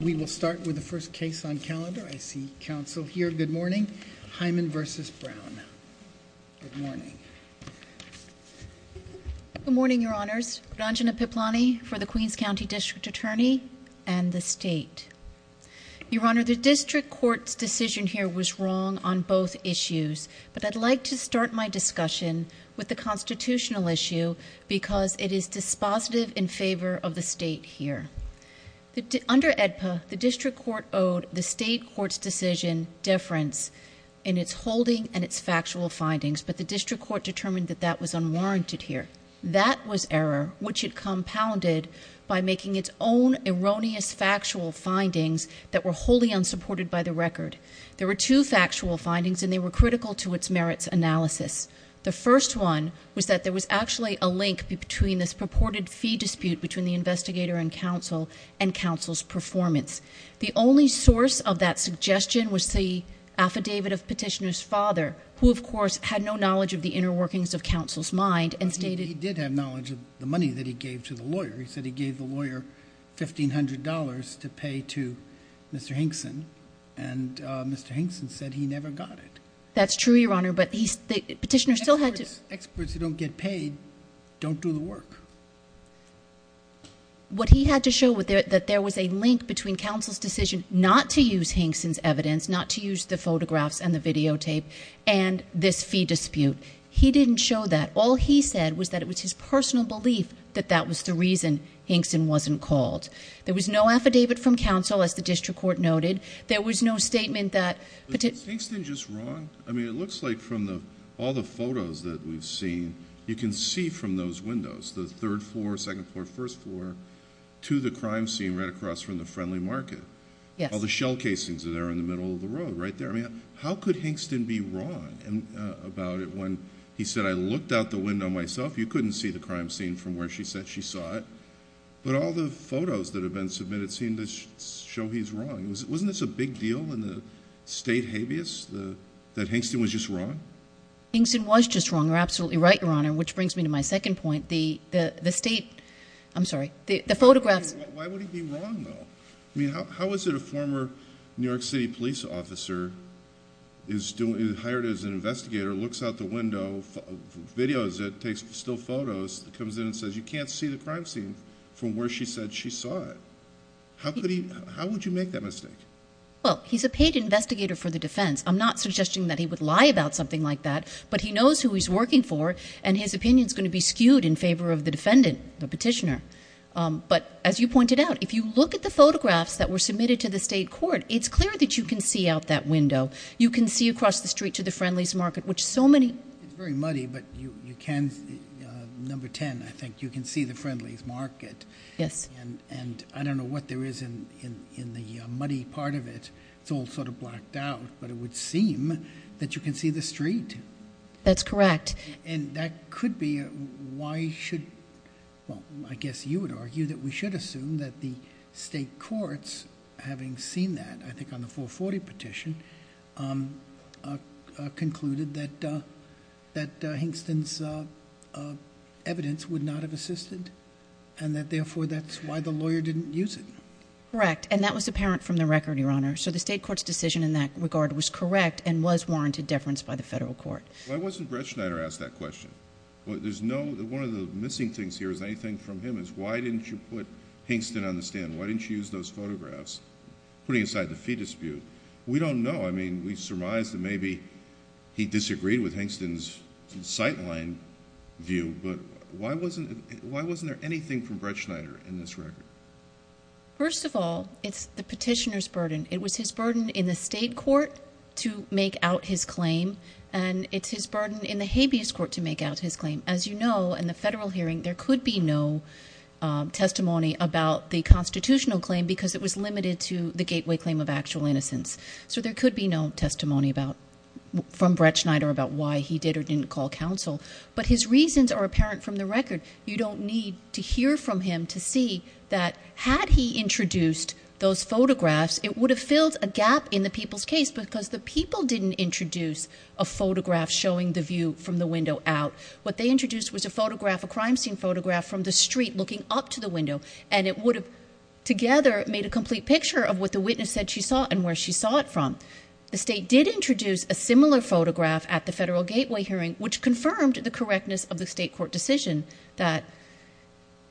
We will start with the first case on calendar. I see counsel here. Good morning. Hyman v. Brown. Good morning. Good morning, Your Honors. Ranjana Piplani for the Queens County District Attorney and the State. Your Honor, the District Court's decision here was wrong on both issues, but I'd like to start my discussion with the constitutional issue because it is dispositive in favor of the State here. Under AEDPA, the District Court owed the State Court's decision difference in its holding and its factual findings, but the District Court determined that that was unwarranted here. That was error, which it compounded by making its own erroneous factual findings that were wholly unsupported by the record. There were two factual findings, and they were critical to its merits analysis. The first one was that there was actually a link between this purported fee dispute between the investigator and counsel and counsel's performance. The only source of that suggestion was the affidavit of Petitioner's father, who, of course, had no knowledge of the inner workings of counsel's mind and stated— Mr. Hinkson said he never got it. That's true, Your Honor, but Petitioner still had to— Experts who don't get paid don't do the work. What he had to show was that there was a link between counsel's decision not to use Hinkson's evidence, not to use the photographs and the videotape, and this fee dispute. He didn't show that. All he said was that it was his personal belief that that was the reason Hinkson wasn't called. There was no affidavit from counsel, as the district court noted. There was no statement that— Was Hinkson just wrong? I mean, it looks like from all the photos that we've seen, you can see from those windows, the third floor, second floor, first floor, to the crime scene right across from the Friendly Market. Yes. All the shell casings are there in the middle of the road right there. I mean, how could Hinkson be wrong about it when he said, You couldn't see the crime scene from where she said she saw it, but all the photos that have been submitted seem to show he's wrong. Wasn't this a big deal in the state habeas, that Hinkson was just wrong? Hinkson was just wrong. You're absolutely right, Your Honor, which brings me to my second point. The state—I'm sorry. The photographs— Why would he be wrong, though? I mean, how is it a former New York City police officer is hired as an investigator, looks out the window, videos it, takes still photos, comes in and says, You can't see the crime scene from where she said she saw it. How would you make that mistake? Well, he's a paid investigator for the defense. I'm not suggesting that he would lie about something like that, but he knows who he's working for, and his opinion is going to be skewed in favor of the defendant, the petitioner. But as you pointed out, if you look at the photographs that were submitted to the state court, it's clear that you can see out that window. You can see across the street to the Friendly's Market, which so many— It's very muddy, but you can—number 10, I think, you can see the Friendly's Market. Yes. And I don't know what there is in the muddy part of it. It's all sort of blacked out, but it would seem that you can see the street. That's correct. And that could be—why should—well, I guess you would argue that we should assume that the state courts, having seen that, I think on the 440 petition, concluded that Hingston's evidence would not have assisted, and that therefore that's why the lawyer didn't use it. Correct. And that was apparent from the record, Your Honor. So the state court's decision in that regard was correct and was warranted deference by the federal court. Why wasn't Brett Schneider asked that question? There's no—one of the missing things here is anything from him is why didn't you put Hingston on the stand? Why didn't you use those photographs, putting aside the fee dispute? We don't know. I mean, we surmised that maybe he disagreed with Hingston's sightline view, but why wasn't—why wasn't there anything from Brett Schneider in this record? First of all, it's the petitioner's burden. It was his burden in the state court to make out his claim, and it's his burden in the habeas court to make out his claim. As you know, in the federal hearing, there could be no testimony about the constitutional claim because it was limited to the gateway claim of actual innocence. So there could be no testimony about—from Brett Schneider about why he did or didn't call counsel, but his reasons are apparent from the record. You don't need to hear from him to see that had he introduced those photographs, it would have filled a gap in the people's case because the people didn't introduce a photograph showing the view from the window out. What they introduced was a photograph, a crime scene photograph from the street looking up to the window, and it would have together made a complete picture of what the witness said she saw and where she saw it from. The state did introduce a similar photograph at the federal gateway hearing, which confirmed the correctness of the state court decision that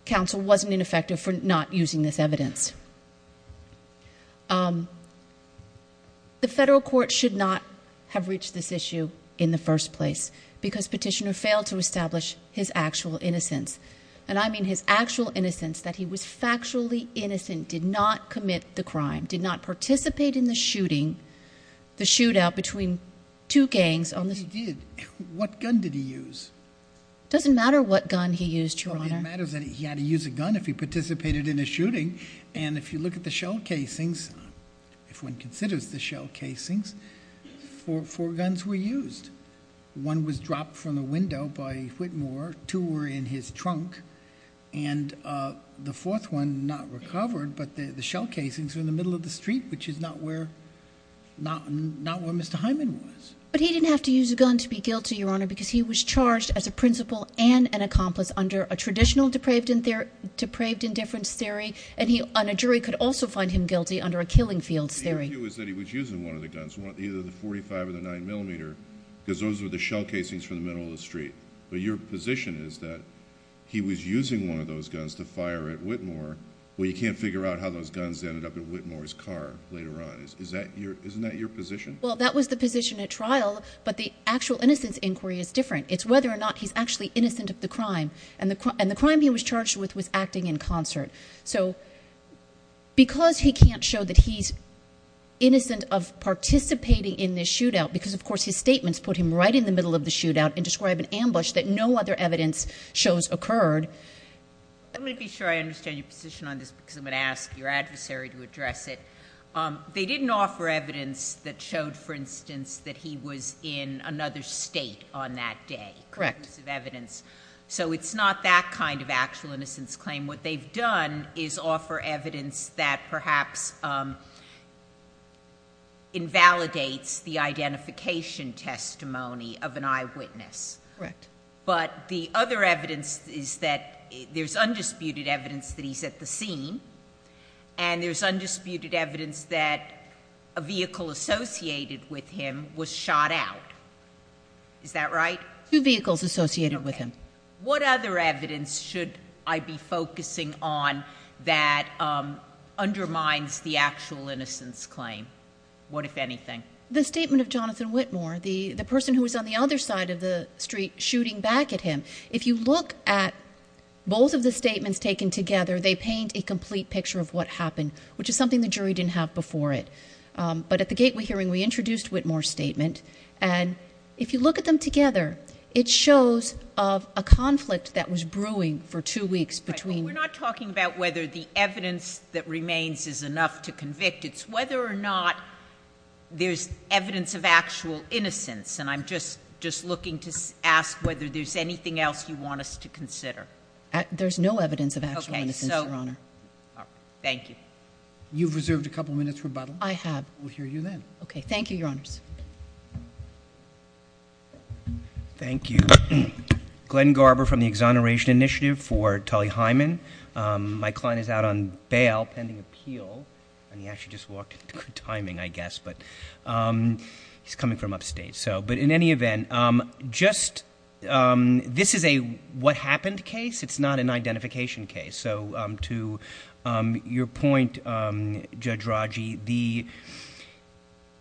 counsel wasn't ineffective for not using this evidence. The federal court should not have reached this issue in the first place because Petitioner failed to establish his actual innocence. And I mean his actual innocence, that he was factually innocent, did not commit the crime, did not participate in the shooting, the shootout between two gangs on the— He did. What gun did he use? It doesn't matter what gun he used, Your Honor. It matters that he had to use a gun if he participated in a shooting. And if you look at the shell casings, if one considers the shell casings, four guns were used. One was dropped from the window by Whitmore. Two were in his trunk. And the fourth one not recovered, but the shell casings were in the middle of the street, which is not where Mr. Hyman was. But he didn't have to use a gun to be guilty, Your Honor, because he was charged as a principal and an accomplice under a traditional depraved indifference theory. And a jury could also find him guilty under a killing fields theory. The issue is that he was using one of the guns, either the .45 or the 9mm, because those were the shell casings from the middle of the street. But your position is that he was using one of those guns to fire at Whitmore. Well, you can't figure out how those guns ended up in Whitmore's car later on. Isn't that your position? Well, that was the position at trial, but the actual innocence inquiry is different. It's whether or not he's actually innocent of the crime. And the crime he was charged with was acting in concert. So because he can't show that he's innocent of participating in this shootout because, of course, his statements put him right in the middle of the shootout and describe an ambush that no other evidence shows occurred. Let me be sure I understand your position on this because I'm going to ask your adversary to address it. They didn't offer evidence that showed, for instance, that he was in another state on that day. Correct. So it's not that kind of actual innocence claim. What they've done is offer evidence that perhaps invalidates the identification testimony of an eyewitness. Correct. But the other evidence is that there's undisputed evidence that he's at the scene, and there's undisputed evidence that a vehicle associated with him was shot out. Is that right? Two vehicles associated with him. What other evidence should I be focusing on that undermines the actual innocence claim? What, if anything? The statement of Jonathan Whitmore, the person who was on the other side of the street shooting back at him. If you look at both of the statements taken together, they paint a complete picture of what happened, which is something the jury didn't have before it. But at the gateway hearing, we introduced Whitmore's statement. And if you look at them together, it shows a conflict that was brewing for two weeks between— We're not talking about whether the evidence that remains is enough to convict. It's whether or not there's evidence of actual innocence. And I'm just looking to ask whether there's anything else you want us to consider. There's no evidence of actual innocence, Your Honor. Okay. Thank you. You've reserved a couple minutes for rebuttal. I have. We'll hear you then. Okay. Thank you, Your Honors. Thank you. Glenn Garber from the Exoneration Initiative for Tully Hyman. My client is out on bail pending appeal. And he actually just walked in good timing, I guess. But he's coming from upstate. But in any event, this is a what happened case. It's not an identification case. So to your point, Judge Raji,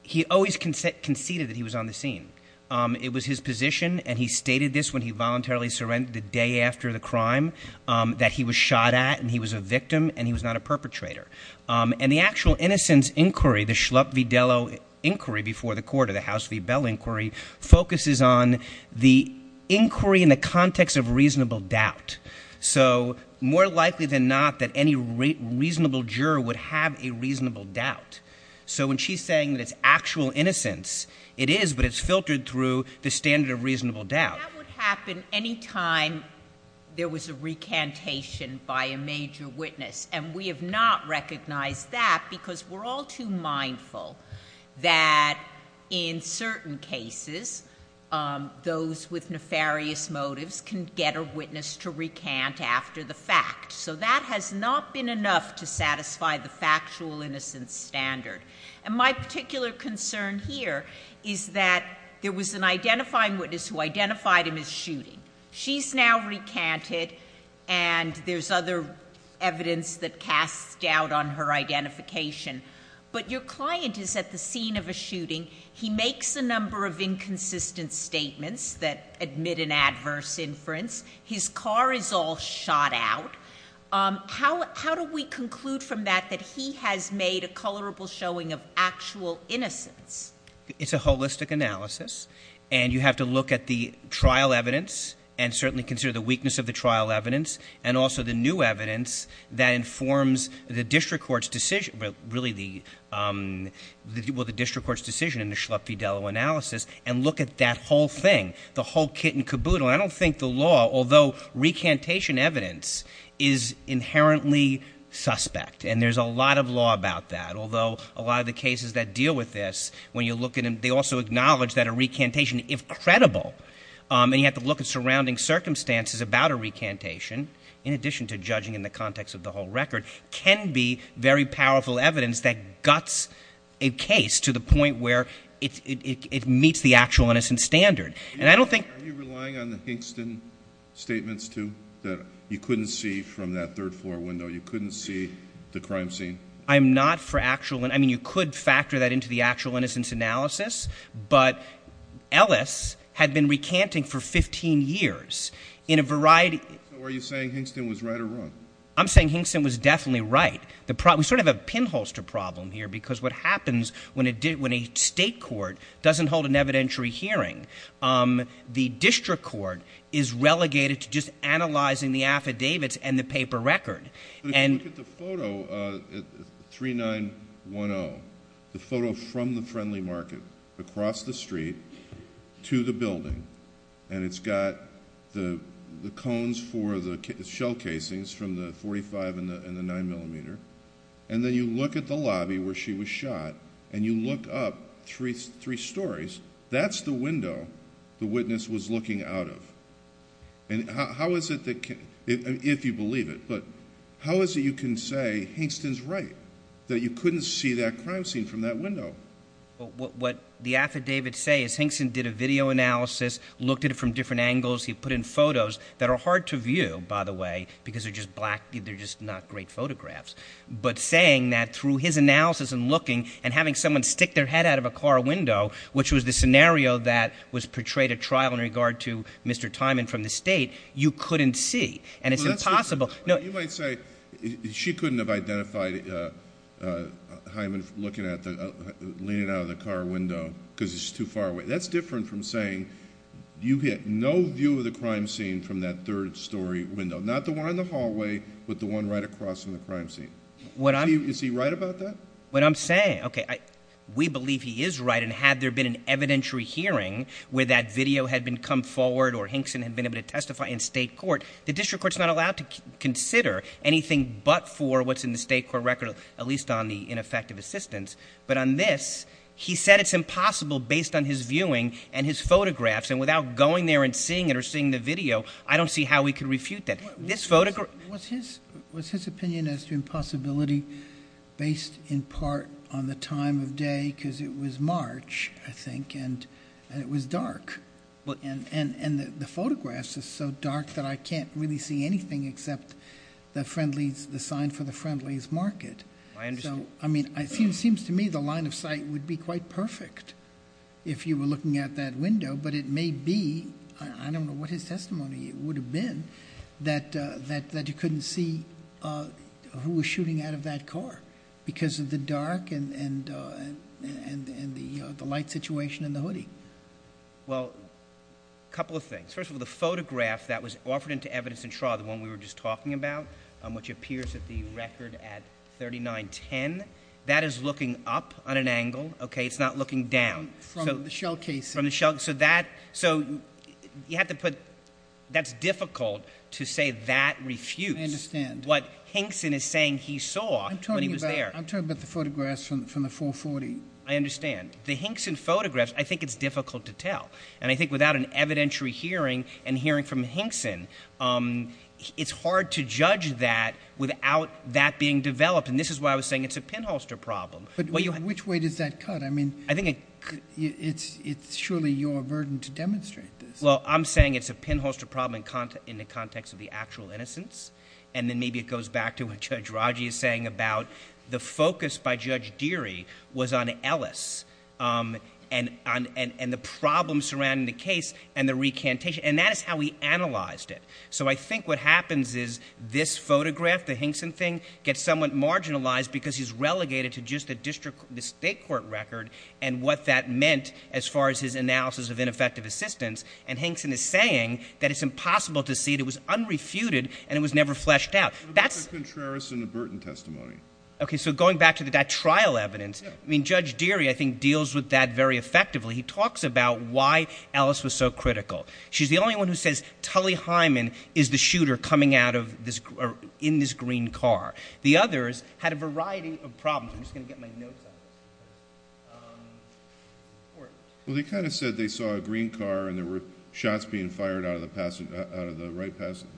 he always conceded that he was on the scene. It was his position, and he stated this when he voluntarily surrendered the day after the crime, that he was shot at and he was a victim and he was not a perpetrator. And the actual innocence inquiry, the Schlupp v. Dello inquiry before the court or the House v. Bell inquiry, focuses on the inquiry in the context of reasonable doubt. So more likely than not that any reasonable juror would have a reasonable doubt. So when she's saying that it's actual innocence, it is, but it's filtered through the standard of reasonable doubt. That would happen any time there was a recantation by a major witness. And we have not recognized that because we're all too mindful that in certain cases, those with nefarious motives can get a witness to recant after the fact. So that has not been enough to satisfy the factual innocence standard. And my particular concern here is that there was an identifying witness who identified him as shooting. She's now recanted, and there's other evidence that casts doubt on her identification. But your client is at the scene of a shooting. He makes a number of inconsistent statements that admit an adverse inference. His car is all shot out. How do we conclude from that that he has made a colorable showing of actual innocence? It's a holistic analysis. And you have to look at the trial evidence and certainly consider the weakness of the trial evidence, and also the new evidence that informs the district court's decision in the Schlupp v. Dello analysis, and look at that whole thing, the whole kit and caboodle. I don't think the law, although recantation evidence is inherently suspect, and there's a lot of law about that, although a lot of the cases that deal with this, when you look at them, they also acknowledge that a recantation, if credible, and you have to look at surrounding circumstances about a recantation, in addition to judging in the context of the whole record, can be very powerful evidence that guts a case to the point where it meets the actual innocence standard. And I don't think — Are you relying on the Hingston statements, too, that you couldn't see from that third-floor window? You couldn't see the crime scene? I'm not for actual — I mean, you could factor that into the actual innocence analysis, but Ellis had been recanting for 15 years in a variety — So are you saying Hingston was right or wrong? I'm saying Hingston was definitely right. We sort of have a pinholster problem here, because what happens when a state court doesn't hold an evidentiary hearing, the district court is relegated to just analyzing the affidavits and the paper record. But if you look at the photo, 3910, the photo from the Friendly Market across the street to the building, and it's got the cones for the shell casings from the 45 and the 9-millimeter, and then you look at the lobby where she was shot and you look up three stories, that's the window the witness was looking out of. And how is it that — if you believe it, but how is it you can say Hingston's right, that you couldn't see that crime scene from that window? What the affidavits say is Hingston did a video analysis, looked at it from different angles. He put in photos that are hard to view, by the way, because they're just black — but saying that through his analysis and looking and having someone stick their head out of a car window, which was the scenario that was portrayed at trial in regard to Mr. Tymon from the state, you couldn't see, and it's impossible. You might say she couldn't have identified Tymon leaning out of the car window because it's too far away. That's different from saying you get no view of the crime scene from that third-story window, not the one in the hallway, but the one right across from the crime scene. Is he right about that? What I'm saying — okay, we believe he is right, and had there been an evidentiary hearing where that video had come forward or Hingston had been able to testify in state court, the district court's not allowed to consider anything but for what's in the state court record, at least on the ineffective assistance. But on this, he said it's impossible based on his viewing and his photographs, and without going there and seeing it or seeing the video, I don't see how we could refute that. Was his opinion as to impossibility based in part on the time of day because it was March, I think, and it was dark, and the photographs are so dark that I can't really see anything except the sign for the Friendly's Market. I mean, it seems to me the line of sight would be quite perfect if you were looking at that window, but it may be — I don't know what his testimony would have been — that you couldn't see who was shooting out of that car because of the dark and the light situation in the hoodie. Well, a couple of things. First of all, the photograph that was offered into evidence in trial, the one we were just talking about, which appears at the record at 3910, that is looking up on an angle, okay? It's not looking down. From the shell casing. So you have to put — that's difficult to say that refutes what Hinkson is saying he saw when he was there. I'm talking about the photographs from the 440. I understand. The Hinkson photographs, I think it's difficult to tell, and I think without an evidentiary hearing and hearing from Hinkson, it's hard to judge that without that being developed, and this is why I was saying it's a pinholster problem. But which way does that cut? I mean, it's surely your burden to demonstrate this. Well, I'm saying it's a pinholster problem in the context of the actual innocence, and then maybe it goes back to what Judge Raji is saying about the focus by Judge Deary was on Ellis and the problems surrounding the case and the recantation, and that is how he analyzed it. So I think what happens is this photograph, the Hinkson thing, gets somewhat marginalized because he's relegated to just the state court record and what that meant as far as his analysis of ineffective assistance, and Hinkson is saying that it's impossible to see it. It was unrefuted, and it was never fleshed out. What about the Contreras and the Burton testimony? Okay, so going back to that trial evidence, I mean, Judge Deary, I think, deals with that very effectively. He talks about why Ellis was so critical. She's the only one who says Tully Hyman is the shooter coming out of this — or in this green car. The others had a variety of problems. I'm just going to get my notes out. Well, they kind of said they saw a green car and there were shots being fired out of the right front passenger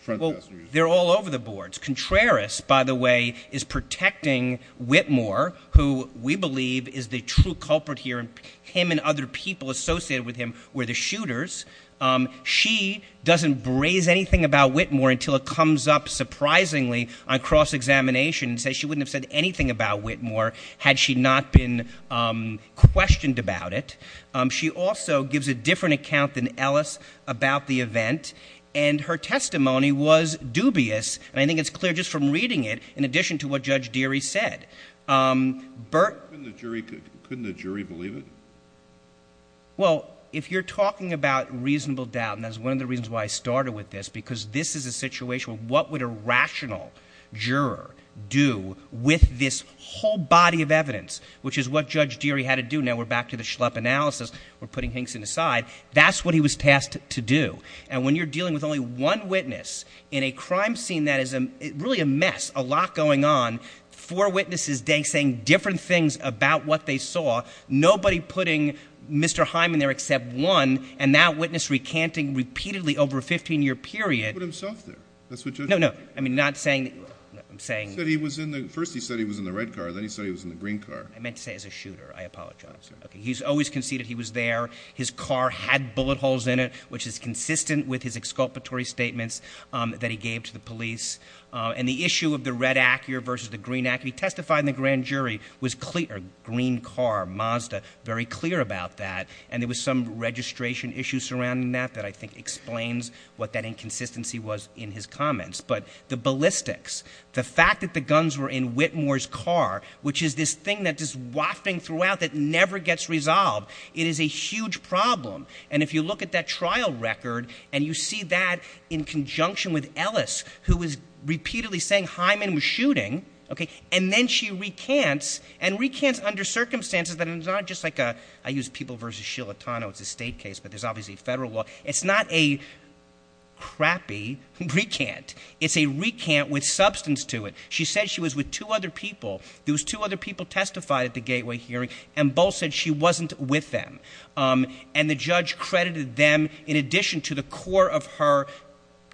seat. Well, they're all over the boards. Contreras, by the way, is protecting Whitmore, who we believe is the true culprit here, and him and other people associated with him were the shooters. She doesn't braze anything about Whitmore until it comes up surprisingly on cross-examination and says she wouldn't have said anything about Whitmore had she not been questioned about it. She also gives a different account than Ellis about the event, and her testimony was dubious, and I think it's clear just from reading it, in addition to what Judge Deary said. Couldn't the jury believe it? Well, if you're talking about reasonable doubt, and that's one of the reasons why I started with this, because this is a situation of what would a rational juror do with this whole body of evidence, which is what Judge Deary had to do. Now, we're back to the Schlepp analysis. We're putting Hinkson aside. That's what he was tasked to do, and when you're dealing with only one witness in a crime scene that is really a mess, a lot going on, four witnesses saying different things about what they saw, nobody putting Mr. Hyman there except one, and that witness recanting repeatedly over a 15-year period. He put himself there. That's what Judge Deary did. No, no. I mean, not saying that. First he said he was in the red car. Then he said he was in the green car. I meant to say as a shooter. I apologize. Okay. He's always conceded he was there. His car had bullet holes in it, which is consistent with his exculpatory statements that he gave to the police. And the issue of the red Acura versus the green Acura, he testified in the grand jury, was green car, Mazda, very clear about that, and there was some registration issue surrounding that that I think explains what that inconsistency was in his comments. But the ballistics, the fact that the guns were in Whitmore's car, which is this thing that's just wafting throughout that never gets resolved, it is a huge problem. And if you look at that trial record and you see that in conjunction with Ellis, who is repeatedly saying Hyman was shooting, and then she recants, and recants under circumstances that it's not just like a, I use people versus Shilatano. It's a state case, but there's obviously a federal law. It's not a crappy recant. It's a recant with substance to it. She said she was with two other people. Those two other people testified at the gateway hearing, and both said she wasn't with them. And the judge credited them in addition to the core of her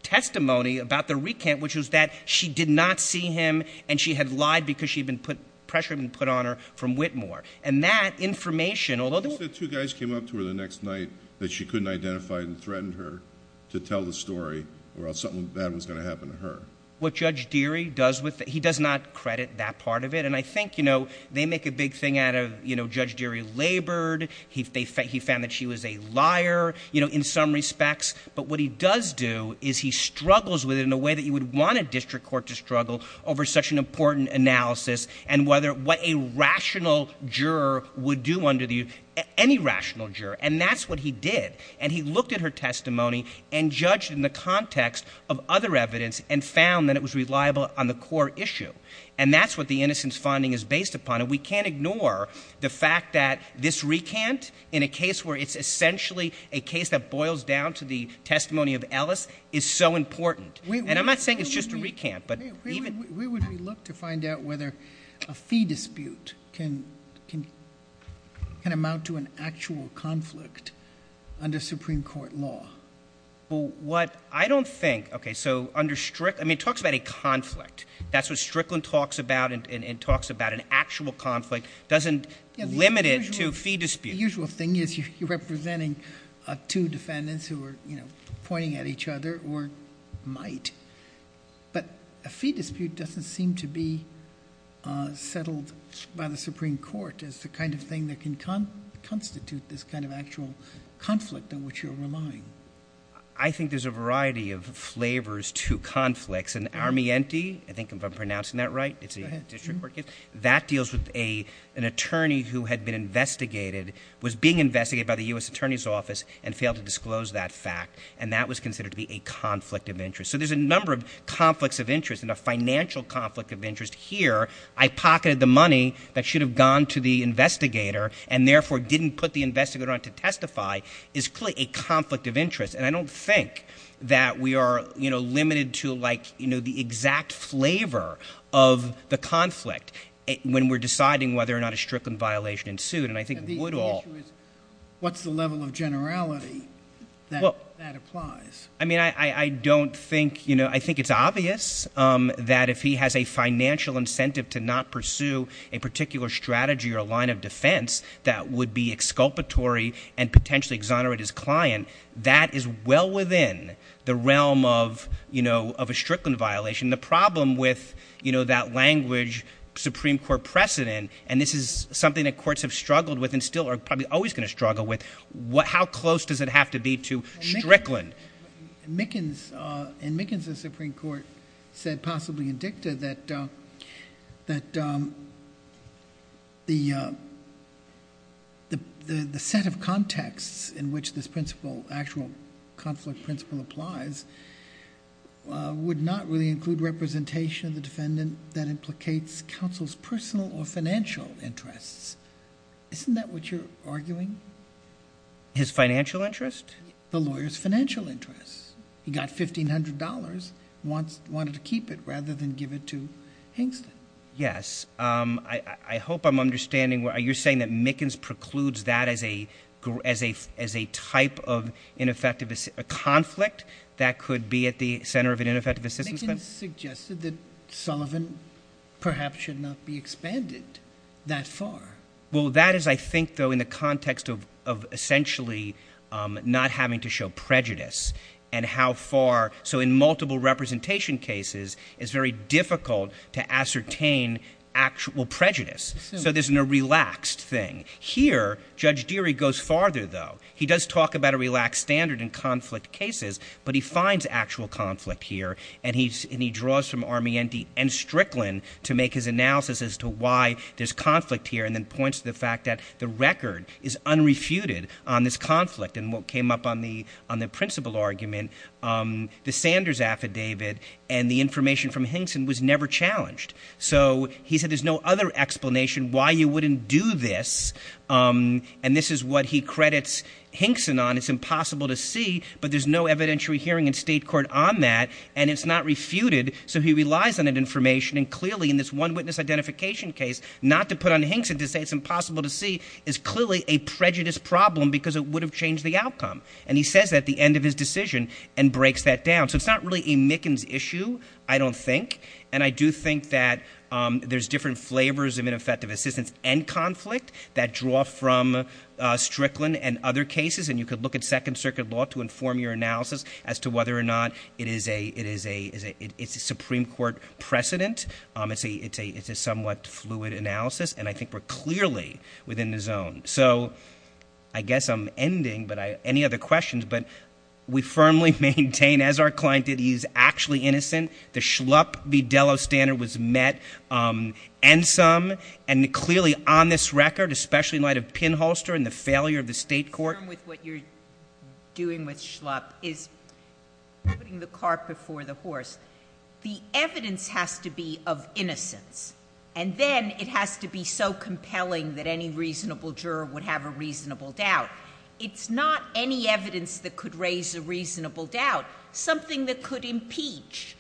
testimony about the recant, which was that she did not see him and she had lied because she had been put, pressure had been put on her from Whitmore. And that information, although the – She said two guys came up to her the next night that she couldn't identify and threatened her to tell the story, or else something bad was going to happen to her. What Judge Deary does with it, he does not credit that part of it. And I think, you know, they make a big thing out of, you know, Judge Deary labored. He found that she was a liar, you know, in some respects. But what he does do is he struggles with it in a way that you would want a district court to struggle over such an important analysis and whether – what a rational juror would do under the – any rational juror. And that's what he did. And he looked at her testimony and judged in the context of other evidence and found that it was reliable on the core issue. And that's what the innocence finding is based upon. And we can't ignore the fact that this recant in a case where it's essentially a case that boils down to the testimony of Ellis is so important. And I'm not saying it's just a recant, but even – Where would we look to find out whether a fee dispute can amount to an actual conflict under Supreme Court law? Well, what – I don't think – okay, so under – I mean, it talks about a conflict. That's what Strickland talks about and talks about. An actual conflict doesn't limit it to a fee dispute. The usual thing is you're representing two defendants who are, you know, pointing at each other or might. But a fee dispute doesn't seem to be settled by the Supreme Court. It's the kind of thing that can constitute this kind of actual conflict in which you're relying. I think there's a variety of flavors to conflicts. And Armienti – I think if I'm pronouncing that right, it's a district court case. That deals with an attorney who had been investigated, was being investigated by the U.S. Attorney's Office and failed to disclose that fact. And that was considered to be a conflict of interest. So there's a number of conflicts of interest and a financial conflict of interest here. I pocketed the money that should have gone to the investigator and, therefore, didn't put the investigator on to testify is clearly a conflict of interest. And I don't think that we are, you know, limited to, like, you know, the exact flavor of the conflict when we're deciding whether or not a Strickland violation ensued. And I think Woodall – The issue is what's the level of generality that applies? I mean, I don't think – you know, I think it's obvious that if he has a financial incentive to not pursue a particular strategy or line of defense that would be exculpatory and potentially exonerate his client. That is well within the realm of, you know, of a Strickland violation. The problem with, you know, that language, Supreme Court precedent, and this is something that courts have struggled with and still are probably always going to struggle with, how close does it have to be to Strickland? But Mickens – and Mickens' Supreme Court said, possibly in dicta, that the set of contexts in which this principle, actual conflict principle applies, would not really include representation of the defendant that implicates counsel's personal or financial interests. Isn't that what you're arguing? His financial interest? The lawyer's financial interest. He got $1,500, wanted to keep it rather than give it to Hingston. Yes. I hope I'm understanding – you're saying that Mickens precludes that as a type of ineffective – a conflict that could be at the center of an ineffective assistance plan? Mickens suggested that Sullivan perhaps should not be expanded that far. Well, that is, I think, though, in the context of essentially not having to show prejudice and how far – so in multiple representation cases, it's very difficult to ascertain actual prejudice. So this is a relaxed thing. Here, Judge Deary goes farther, though. He does talk about a relaxed standard in conflict cases, but he finds actual conflict here, and he draws from Armienti and Strickland to make his analysis as to why there's conflict here and then points to the fact that the record is unrefuted on this conflict. And what came up on the principle argument, the Sanders affidavit and the information from Hingston was never challenged. So he said there's no other explanation why you wouldn't do this, and this is what he credits Hingston on. It's impossible to see, but there's no evidentiary hearing in state court on that, and it's not refuted, so he relies on that information. And clearly, in this one-witness identification case, not to put on Hingston to say it's impossible to see is clearly a prejudice problem because it would have changed the outcome. And he says that at the end of his decision and breaks that down. So it's not really a Mickens issue, I don't think. And I do think that there's different flavors of ineffective assistance and conflict that draw from Strickland and other cases. And you could look at Second Circuit law to inform your analysis as to whether or not it's a Supreme Court precedent. It's a somewhat fluid analysis, and I think we're clearly within the zone. So I guess I'm ending, but any other questions? But we firmly maintain, as our client did, he's actually innocent. The Schlupp v. Dello standard was met, and some. And clearly, on this record, especially in light of pinholster and the failure of the state court- The evidence has to be of innocence. And then it has to be so compelling that any reasonable juror would have a reasonable doubt. It's not any evidence that could raise a reasonable doubt. Something that could impeach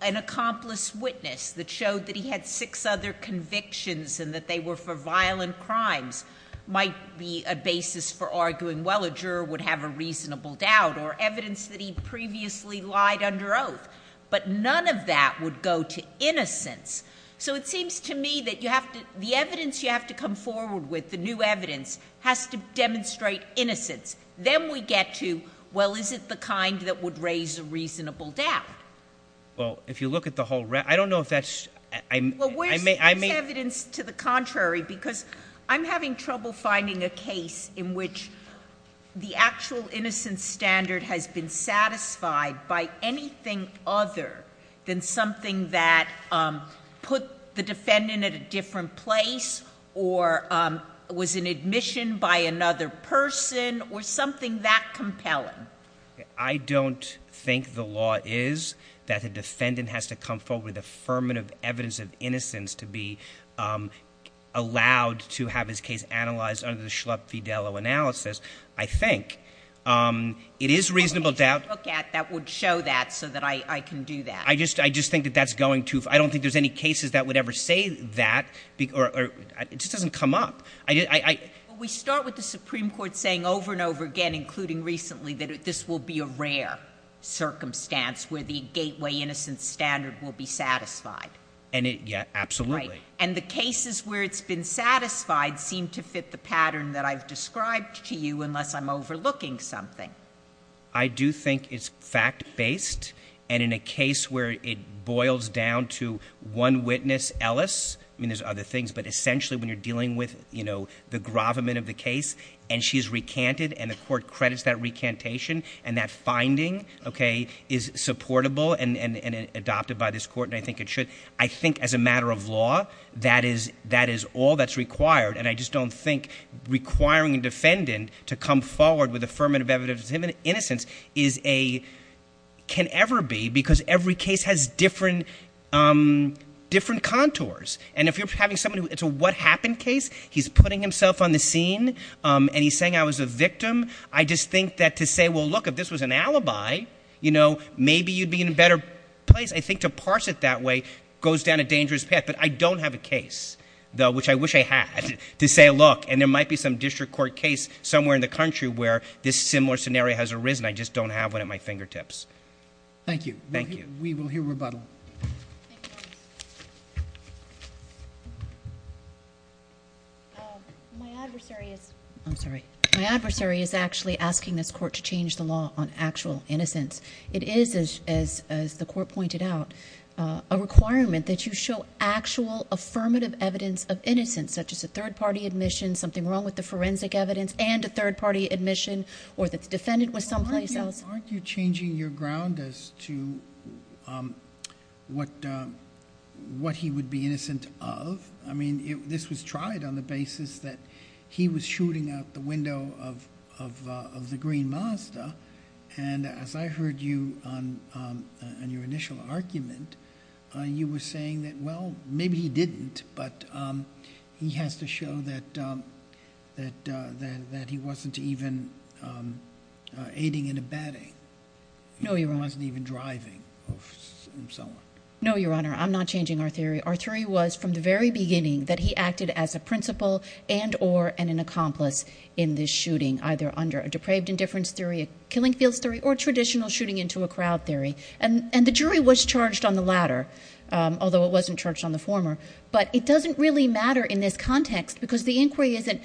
an accomplice witness that showed that he had six other convictions and that they were for violent crimes might be a basis for arguing, well, a juror would have a reasonable doubt, or evidence that he previously lied under oath. But none of that would go to innocence. So it seems to me that the evidence you have to come forward with, the new evidence, has to demonstrate innocence. Then we get to, well, is it the kind that would raise a reasonable doubt? Well, if you look at the whole- I don't know if that's- Well, where's evidence to the contrary? Because I'm having trouble finding a case in which the actual innocence standard has been satisfied by anything other than something that put the defendant at a different place, or was an admission by another person, or something that compelling. I don't think the law is that the defendant has to come forward with affirmative evidence of innocence to be allowed to have his case analyzed under the Schlupf-Fidello analysis, I think. It is reasonable doubt- Something to look at that would show that so that I can do that. I just think that that's going to- I don't think there's any cases that would ever say that. It just doesn't come up. We start with the Supreme Court saying over and over again, including recently, that this will be a rare circumstance where the gateway innocence standard will be satisfied. Yeah, absolutely. And the cases where it's been satisfied seem to fit the pattern that I've described to you, unless I'm overlooking something. I do think it's fact-based. And in a case where it boils down to one witness, Ellis. I mean, there's other things. But essentially, when you're dealing with the gravamen of the case, and she's recanted, and the court credits that recantation. And that finding is supportable and adopted by this court, and I think it should. I think as a matter of law, that is all that's required. And I just don't think requiring a defendant to come forward with affirmative evidence of innocence is a- can ever be. Because every case has different contours. And if you're having someone who- it's a what happened case. He's putting himself on the scene, and he's saying I was a victim. I just think that to say, well, look, if this was an alibi, maybe you'd be in a better place. I think to parse it that way goes down a dangerous path. But I don't have a case, though, which I wish I had, to say, look. And there might be some district court case somewhere in the country where this similar scenario has arisen. I just don't have one at my fingertips. Thank you. Thank you. We will hear rebuttal. My adversary is- I'm sorry. My adversary is actually asking this court to change the law on actual innocence. It is, as the court pointed out, a requirement that you show actual affirmative evidence of innocence, such as a third-party admission, something wrong with the forensic evidence, and a third-party admission or that the defendant was someplace else. Aren't you changing your ground as to what he would be innocent of? I mean, this was tried on the basis that he was shooting out the window of the green Mazda. And as I heard you on your initial argument, you were saying that, well, maybe he didn't, but he has to show that he wasn't even aiding and abetting. No, Your Honor. He wasn't even driving and so on. No, Your Honor. I'm not changing our theory. Our theory was from the very beginning that he acted as a principal and or an accomplice in this shooting, either under a depraved indifference theory, a killing fields theory, or traditional shooting into a crowd theory. And the jury was charged on the latter, although it wasn't charged on the former. But it doesn't really matter in this context because the inquiry isn't,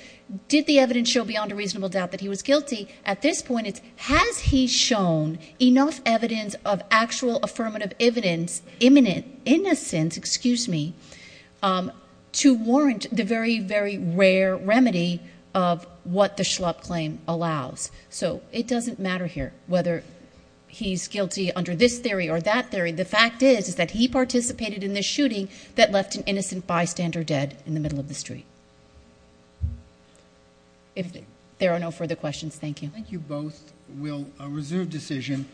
did the evidence show beyond a reasonable doubt that he was guilty? At this point, it's, has he shown enough evidence of actual affirmative evidence, imminent innocence, excuse me, to warrant the very, very rare remedy of what the Schlupp claim allows. So it doesn't matter here whether he's guilty under this theory or that theory. The fact is, is that he participated in the shooting that left an innocent bystander dead in the middle of the street. If there are no further questions, thank you. Thank you both. We'll reserve decision.